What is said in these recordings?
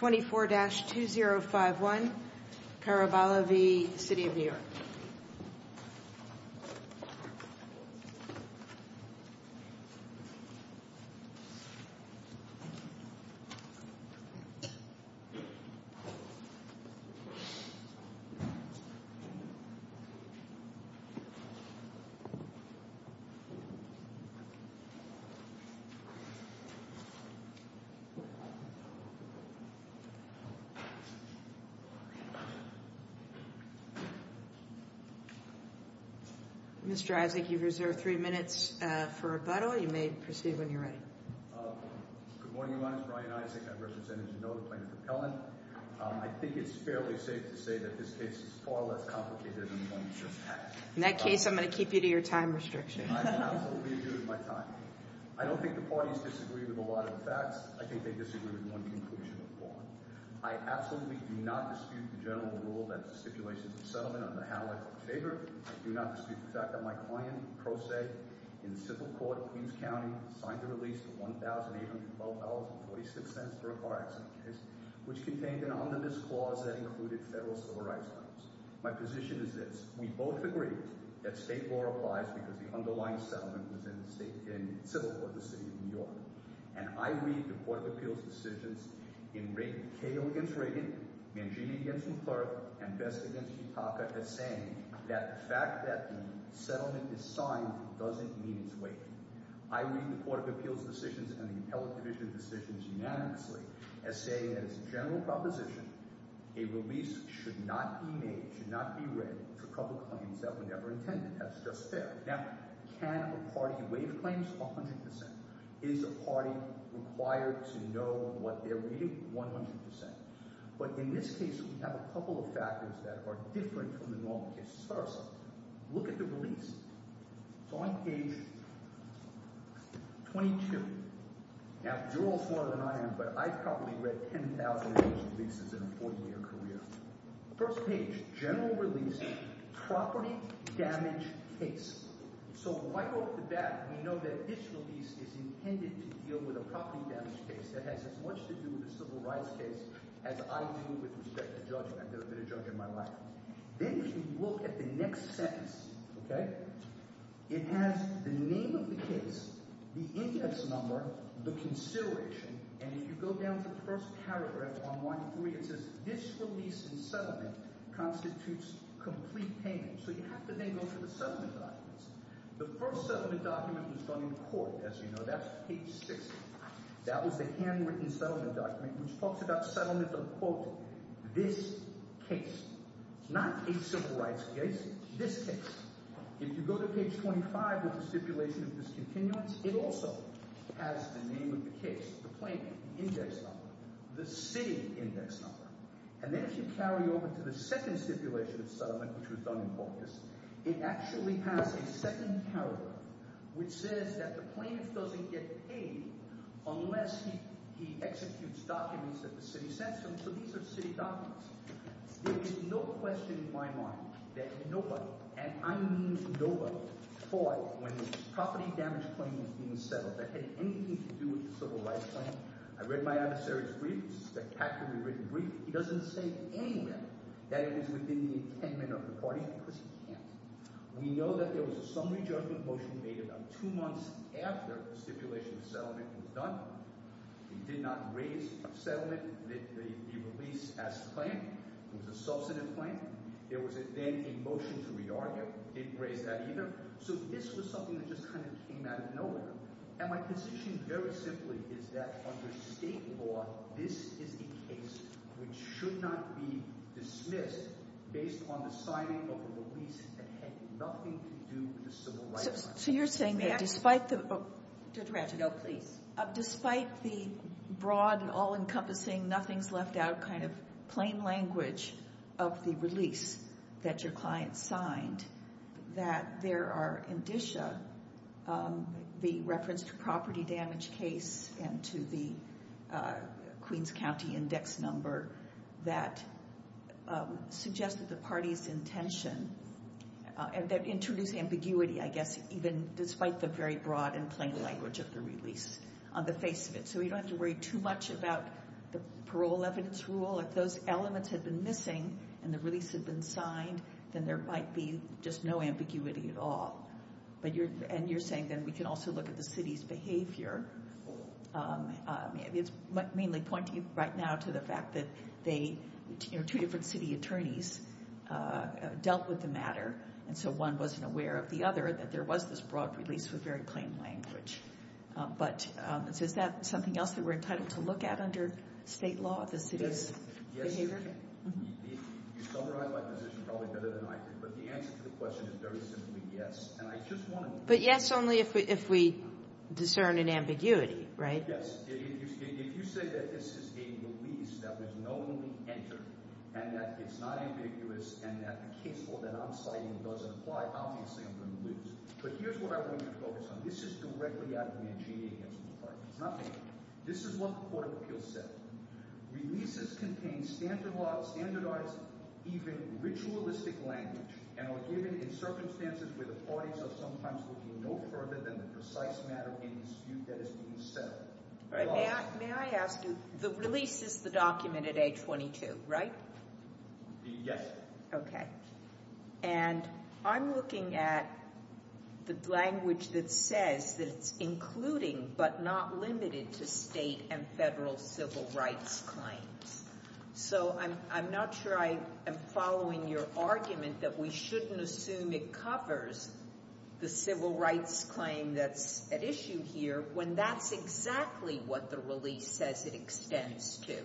24-2051 Caraballo v. City of New York Mr. Isaac, you've reserved three minutes for rebuttal. You may proceed when you're ready. Good morning, Your Honor. I'm Brian Isaac. I'm representing the notoplane propellant. I think it's fairly safe to say that this case is far less complicated than the one you just had. In that case, I'm going to keep you to your time restriction. I absolutely agree with my time. I don't think the parties disagree with a lot of the facts. I think they disagree with one conclusion of the law. I absolutely do not dispute the general rule that the stipulations of settlement are the highlight of the favor. I do not dispute the fact that my client, Pro Se, in civil court in Queens County, signed a release of $1,812.46 for a car accident case, which contained an omnibus clause that included federal civil rights claims. My position is this. We both agree that state law applies because the underlying settlement was in civil court in the City of New York. And I read the Court of Appeals decisions in Cato against Reagan, Mangini against McClurk, and Best against Kitaka as saying that the fact that the settlement is signed doesn't mean it's waived. I read the Court of Appeals decisions and the Appellate Division decisions unanimously as saying that it's a general proposition a release should not be made, should not be read, for public claims that were never intended. That's just fair. Now, can a party waive claims? 100%. Is a party required to know what they're reading? 100%. But in this case, we have a couple of factors that are different from the normal cases. First, look at the release. It's on page 22. Now, you're all smarter than I am, but I've probably read 10,000 of those releases in a 40-year career. First page, general release, property damage case. So right off the bat, we know that this release is intended to deal with a property damage case that has as much to do with a civil rights case as I do with respect to judgment. There have been a judge in my life. Then if you look at the next sentence, okay, it has the name of the case, the index number, the consideration. And if you go down to the first paragraph on line 3, it says this release and settlement constitutes complete payment. So you have to then go through the settlement documents. The first settlement document was done in court, as you know. That's page 60. That was the handwritten settlement document, which talks about settlement of, quote, this case. Not a civil rights case, this case. If you go to page 25 with the stipulation of discontinuance, it also has the name of the case. The plaintiff, the index number, the city index number. And then if you carry over to the second stipulation of settlement, which was done in focus, it actually has a second paragraph, which says that the plaintiff doesn't get paid unless he executes documents that the city sends him. So these are city documents. There is no question in my mind that nobody, and I mean nobody, fought when this property damage claim was being settled that had anything to do with the civil rights claim. I read my adversary's brief. It's a spectacularly written brief. He doesn't say anywhere that it was within the intent of the party because he can't. We know that there was a summary judgment motion made about two months after the stipulation of settlement was done. He did not raise the settlement that he released as a claim. It was a substantive claim. There was then a motion to re-argue. I didn't raise that either. So this was something that just kind of came out of nowhere. And my position very simply is that under state law, this is a case which should not be dismissed based on the signing of a release that had nothing to do with the civil rights claim. So you're saying that despite the broad and all-encompassing, nothing's left out kind of plain language of the release that your client signed, that there are indicia, the reference to property damage case and to the Queens County index number, that suggested the party's intention and that introduced ambiguity, I guess, even despite the very broad and plain language of the release on the face of it. So we don't have to worry too much about the parole evidence rule. If those elements had been missing and the release had been signed, then there might be just no ambiguity at all. And you're saying then we can also look at the city's behavior. It's mainly pointing right now to the fact that two different city attorneys dealt with the matter. And so one wasn't aware of the other, that there was this broad release with very plain language. But is that something else that we're entitled to look at under state law, the city's behavior? Yes. You summarized my position probably better than I could. But the answer to the question is very simply yes. But yes only if we discern an ambiguity, right? Yes. If you say that this is a release that was knowingly entered and that it's not ambiguous and that the case law that I'm citing doesn't apply, obviously I'm going to lose. But here's what I want you to focus on. This is directly out of Mancini against McCarthy. It's not me. This is what the court of appeals said. Releases contain standardized even ritualistic language and are given in circumstances where the parties are sometimes looking no further than the precise matter in dispute that is being settled. May I ask you, the release is the document at age 22, right? Yes. And I'm looking at the language that says that it's including but not limited to state and federal civil rights claims. So I'm not sure I am following your argument that we shouldn't assume it covers the civil rights claim that's at issue here when that's exactly what the release says it extends to.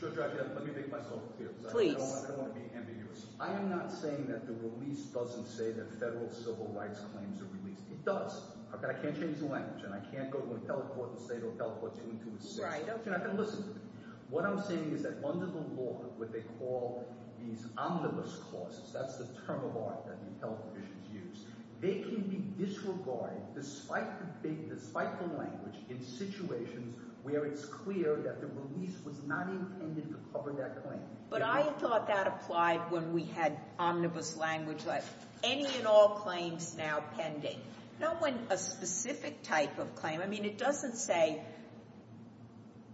Judge, let me make myself clear. Please. I don't want to be ambiguous. I am not saying that the release doesn't say that federal civil rights claims are released. It does. I can't change the language and I can't go to a teleport and say to a teleport you went to a state. Right. You're not going to listen to me. What I'm saying is that under the law, what they call these omnibus clauses, that's the term of art that the health officials use, they can be disregarded despite the language in situations where it's clear that the release was not intended to cover that claim. But I thought that applied when we had omnibus language like any and all claims now pending. Not when a specific type of claim. I mean, it doesn't say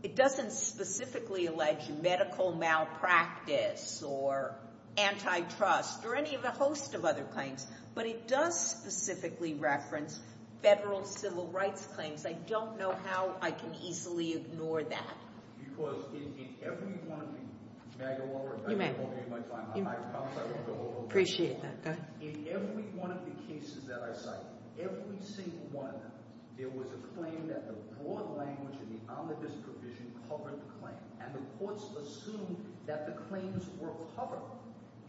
it doesn't specifically allege medical malpractice or antitrust or any of the host of other claims, but it does specifically reference federal civil rights claims. I don't know how I can easily ignore that. Because in every one of the cases that I cite, every single one, there was a claim that the broad language of the omnibus provision covered the claim. And the courts assumed that the claims were covered.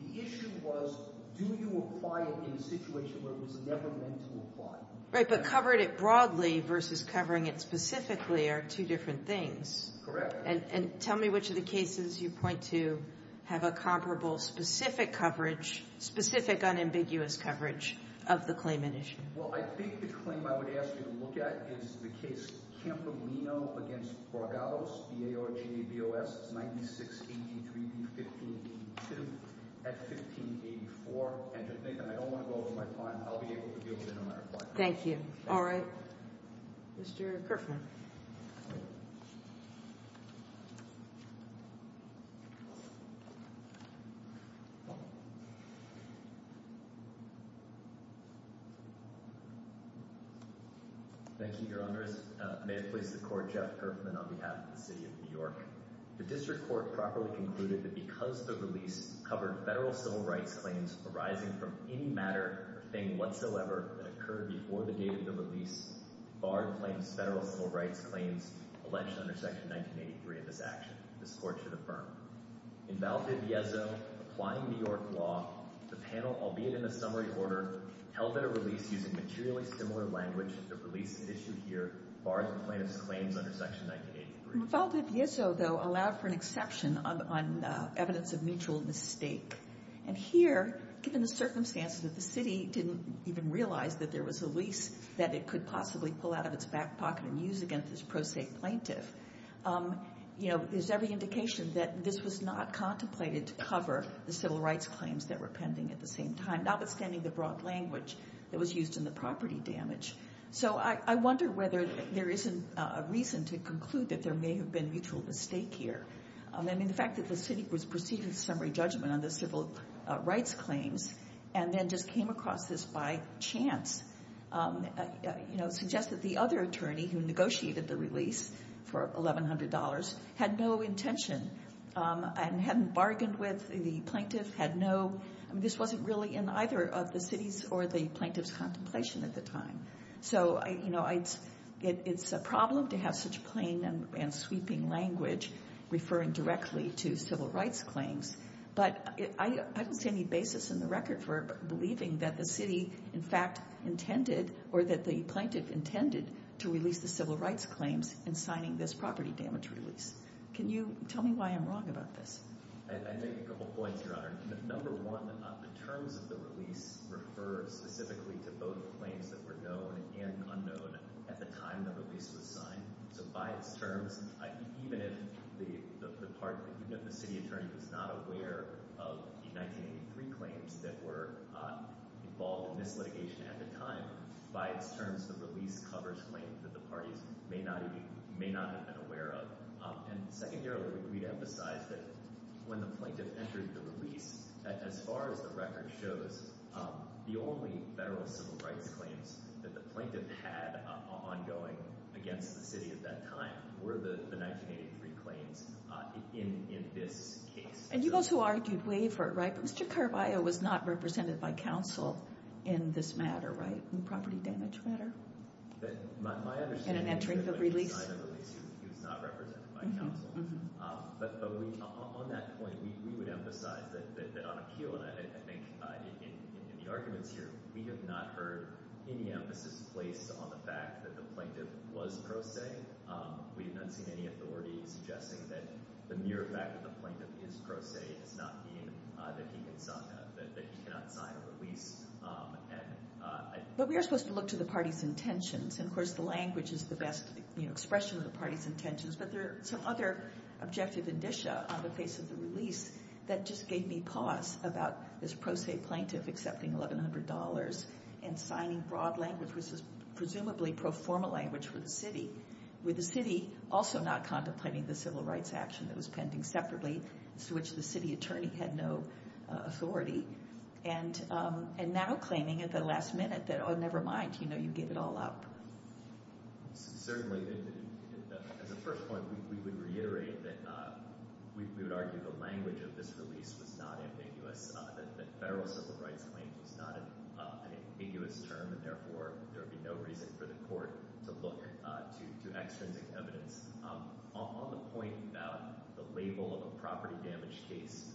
The issue was, do you apply it in a situation where it was never meant to apply? Right, but covered it broadly versus covering it specifically are two different things. Correct. And tell me which of the cases you point to have a comparable specific coverage, specific unambiguous coverage of the claimant issue. Well, I think the claim I would ask you to look at is the case Campolino v. Bragados, B-A-R-G-A-B-O-S, 9683 v. 1582 at 1584. And Nathan, I don't want to go over my time. I'll be able to deal with it no matter what. Thank you. All right. Mr. Kerfman. Thank you, Your Honor. May it please the Court, Jeff Kerfman on behalf of the City of New York. The district court properly concluded that because the release covered federal civil rights claims arising from any matter or thing whatsoever that occurred before the date of the release barred plaintiffs' federal civil rights claims alleged under Section 1983 in this action. This Court should affirm. In Valdiviezo, applying New York law, the panel, albeit in a summary order, held that a release using materially similar language should have released the issue here barred the plaintiffs' claims under Section 1983. Valdiviezo, though, allowed for an exception on evidence of mutual mistake. And here, given the circumstances that the city didn't even realize that there was a lease that it could possibly pull out of its back pocket and use against this pro se plaintiff, you know, there's every indication that this was not contemplated to cover the civil rights claims that were pending at the same time, notwithstanding the broad language that was used in the property damage. So I wonder whether there isn't a reason to conclude that there may have been mutual mistake here. I mean, the fact that the city was proceeding with summary judgment on the civil rights claims and then just came across this by chance, you know, suggests that the other attorney who negotiated the release for $1,100 had no intention and hadn't bargained with the plaintiff, had no, I mean, this wasn't really in either of the city's or the plaintiff's contemplation at the time. So, you know, it's a problem to have such plain and sweeping language referring directly to civil rights claims. But I don't see any basis in the record for believing that the city, in fact, intended or that the plaintiff intended to release the civil rights claims in signing this property damage release. Can you tell me why I'm wrong about this? I'd make a couple points, Your Honor. Number one, the terms of the release refer specifically to both claims that were known and unknown at the time the release was signed. So by its terms, even if the city attorney was not aware of the 1983 claims that were involved in this litigation at the time, by its terms, the release covers claims that the parties may not have been aware of. And secondarily, we'd emphasize that when the plaintiff entered the release, as far as the record shows, the only federal civil rights claims that the plaintiff had ongoing against the city at that time were the 1983 claims in this case. And you also argued waiver, right? But Mr. Carvalho was not represented by counsel in this matter, right? In the property damage matter? In entering the release? He was not represented by counsel. But on that point, we would emphasize that on appeal, and I think in the arguments here, we have not heard any emphasis placed on the fact that the plaintiff was pro se. We have not seen any authority suggesting that the mere fact that the plaintiff is pro se does not mean that he cannot sign a release. But we are supposed to look to the parties' intentions, and of course the language is the best expression of the parties' intentions. But there are some other objective indicia on the face of the release that just gave me pause about this pro se plaintiff accepting $1,100 and signing broad language, which is presumably pro forma language for the city. With the city also not contemplating the civil rights action that was pending separately, to which the city attorney had no authority. And now claiming at the last minute that, oh, never mind, you know, you gave it all up. Certainly, as a first point, we would reiterate that we would argue the language of this release was not ambiguous. That federal civil rights claims was not an ambiguous term, and therefore there would be no reason for the court to look to extrinsic evidence. On the point about the label of a property damage case,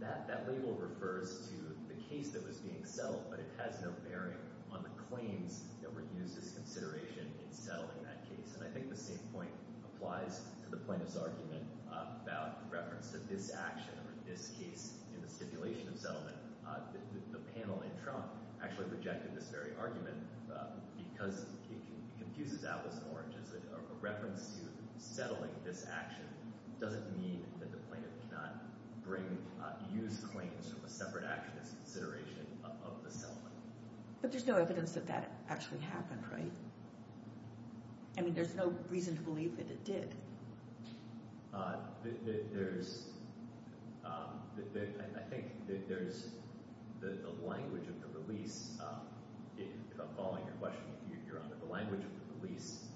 that label refers to the case that was being settled, but it has no bearing on the claims that were used as consideration in settling that case. And I think the same point applies to the plaintiff's argument about reference to this action or this case in the stipulation of settlement. The panel in Trump actually rejected this very argument because it confuses Atlas and Orange. A reference to settling this action doesn't mean that the plaintiff cannot use claims from a separate action as consideration of the settlement. But there's no evidence that that actually happened, right? I mean, there's no reason to believe that it did. There's – I think there's the language of the release. If I'm following your question, Your Honor, the language of the release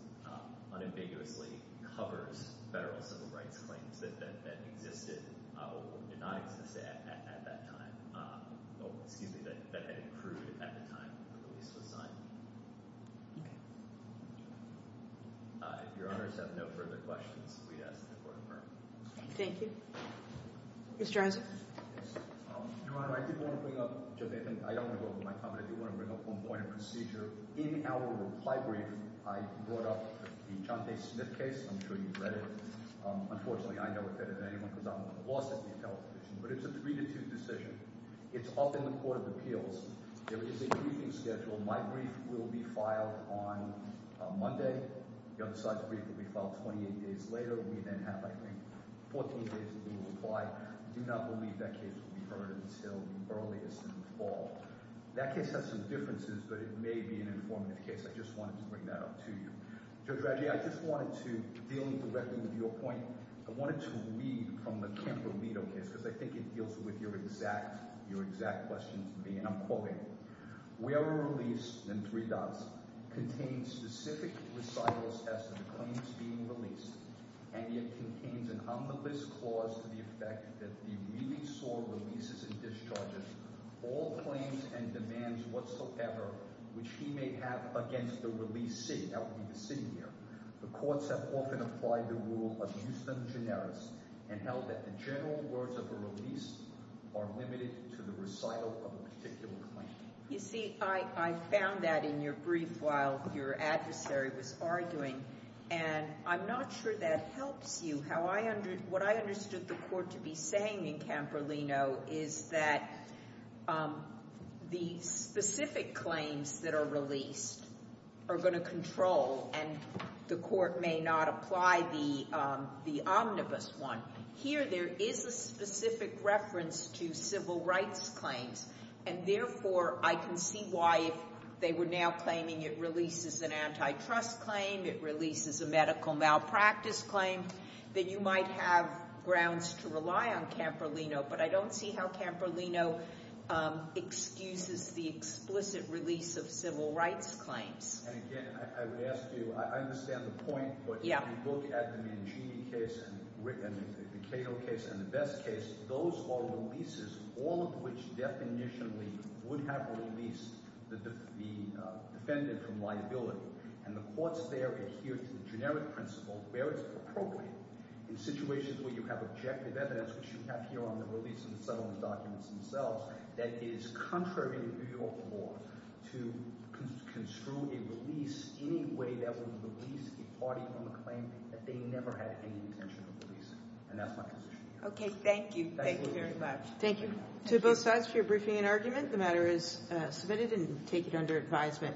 unambiguously covers federal civil rights claims that existed or did not exist at that time – excuse me, that had accrued at the time the release was signed. Okay. If Your Honors have no further questions, we ask that the Court confirm. Thank you. Mr. Arzo? Your Honor, I did want to bring up – I don't want to go over my comment. I do want to bring up one point of procedure. In our reply brief, I brought up the Chante Smith case. I'm sure you've read it. Unfortunately, I never did it, because I'm lost at the intelligence division. But it's a three-to-two decision. It's up in the Court of Appeals. There is a briefing schedule. My brief will be filed on Monday. The other side's brief will be filed 28 days later. We then have, I think, 14 days until we reply. I do not believe that case will be heard until the earliest in the fall. That case has some differences, but it may be an informative case. I just wanted to bring that up to you. Judge Raggi, I just wanted to deal directly with your point. I wanted to read from the Kemper-Lito case, because I think it deals with your exact – your exact question to me, and I'm quoting it. Where a release – and three dots – contains specific recitals as to the claims being released, and yet contains an humblest clause to the effect that the release or releases and discharges all claims and demands whatsoever which he may have against the release city – that would be the city here – the courts have often applied the rule of justem generis and held that the general words of a release are limited to the recital of a particular claim. You see, I found that in your brief while your adversary was arguing, and I'm not sure that helps you. How I – what I understood the court to be saying in Kemper-Lito is that the specific claims that are released are going to control, and the court may not apply the omnibus one. Here there is a specific reference to civil rights claims, and therefore I can see why if they were now claiming it releases an antitrust claim, it releases a medical malpractice claim, that you might have grounds to rely on Kemper-Lito. But I don't see how Kemper-Lito excuses the explicit release of civil rights claims. And again, I would ask you – I understand the point, but if you look at the Mangini case and the Cato case and the Best case, those are releases, all of which definitionally would have released the defendant from liability, and the courts there adhere to the generic principle where it's appropriate. In situations where you have objective evidence, which you have here on the release in the settlement documents themselves, that is contrary to the New York law to construe a release any way that would release a party from a claim that they never had any intention of releasing. And that's my position. Okay, thank you. Thank you very much. Thank you. To both sides for your briefing and argument, the matter is submitted and taken under advisement.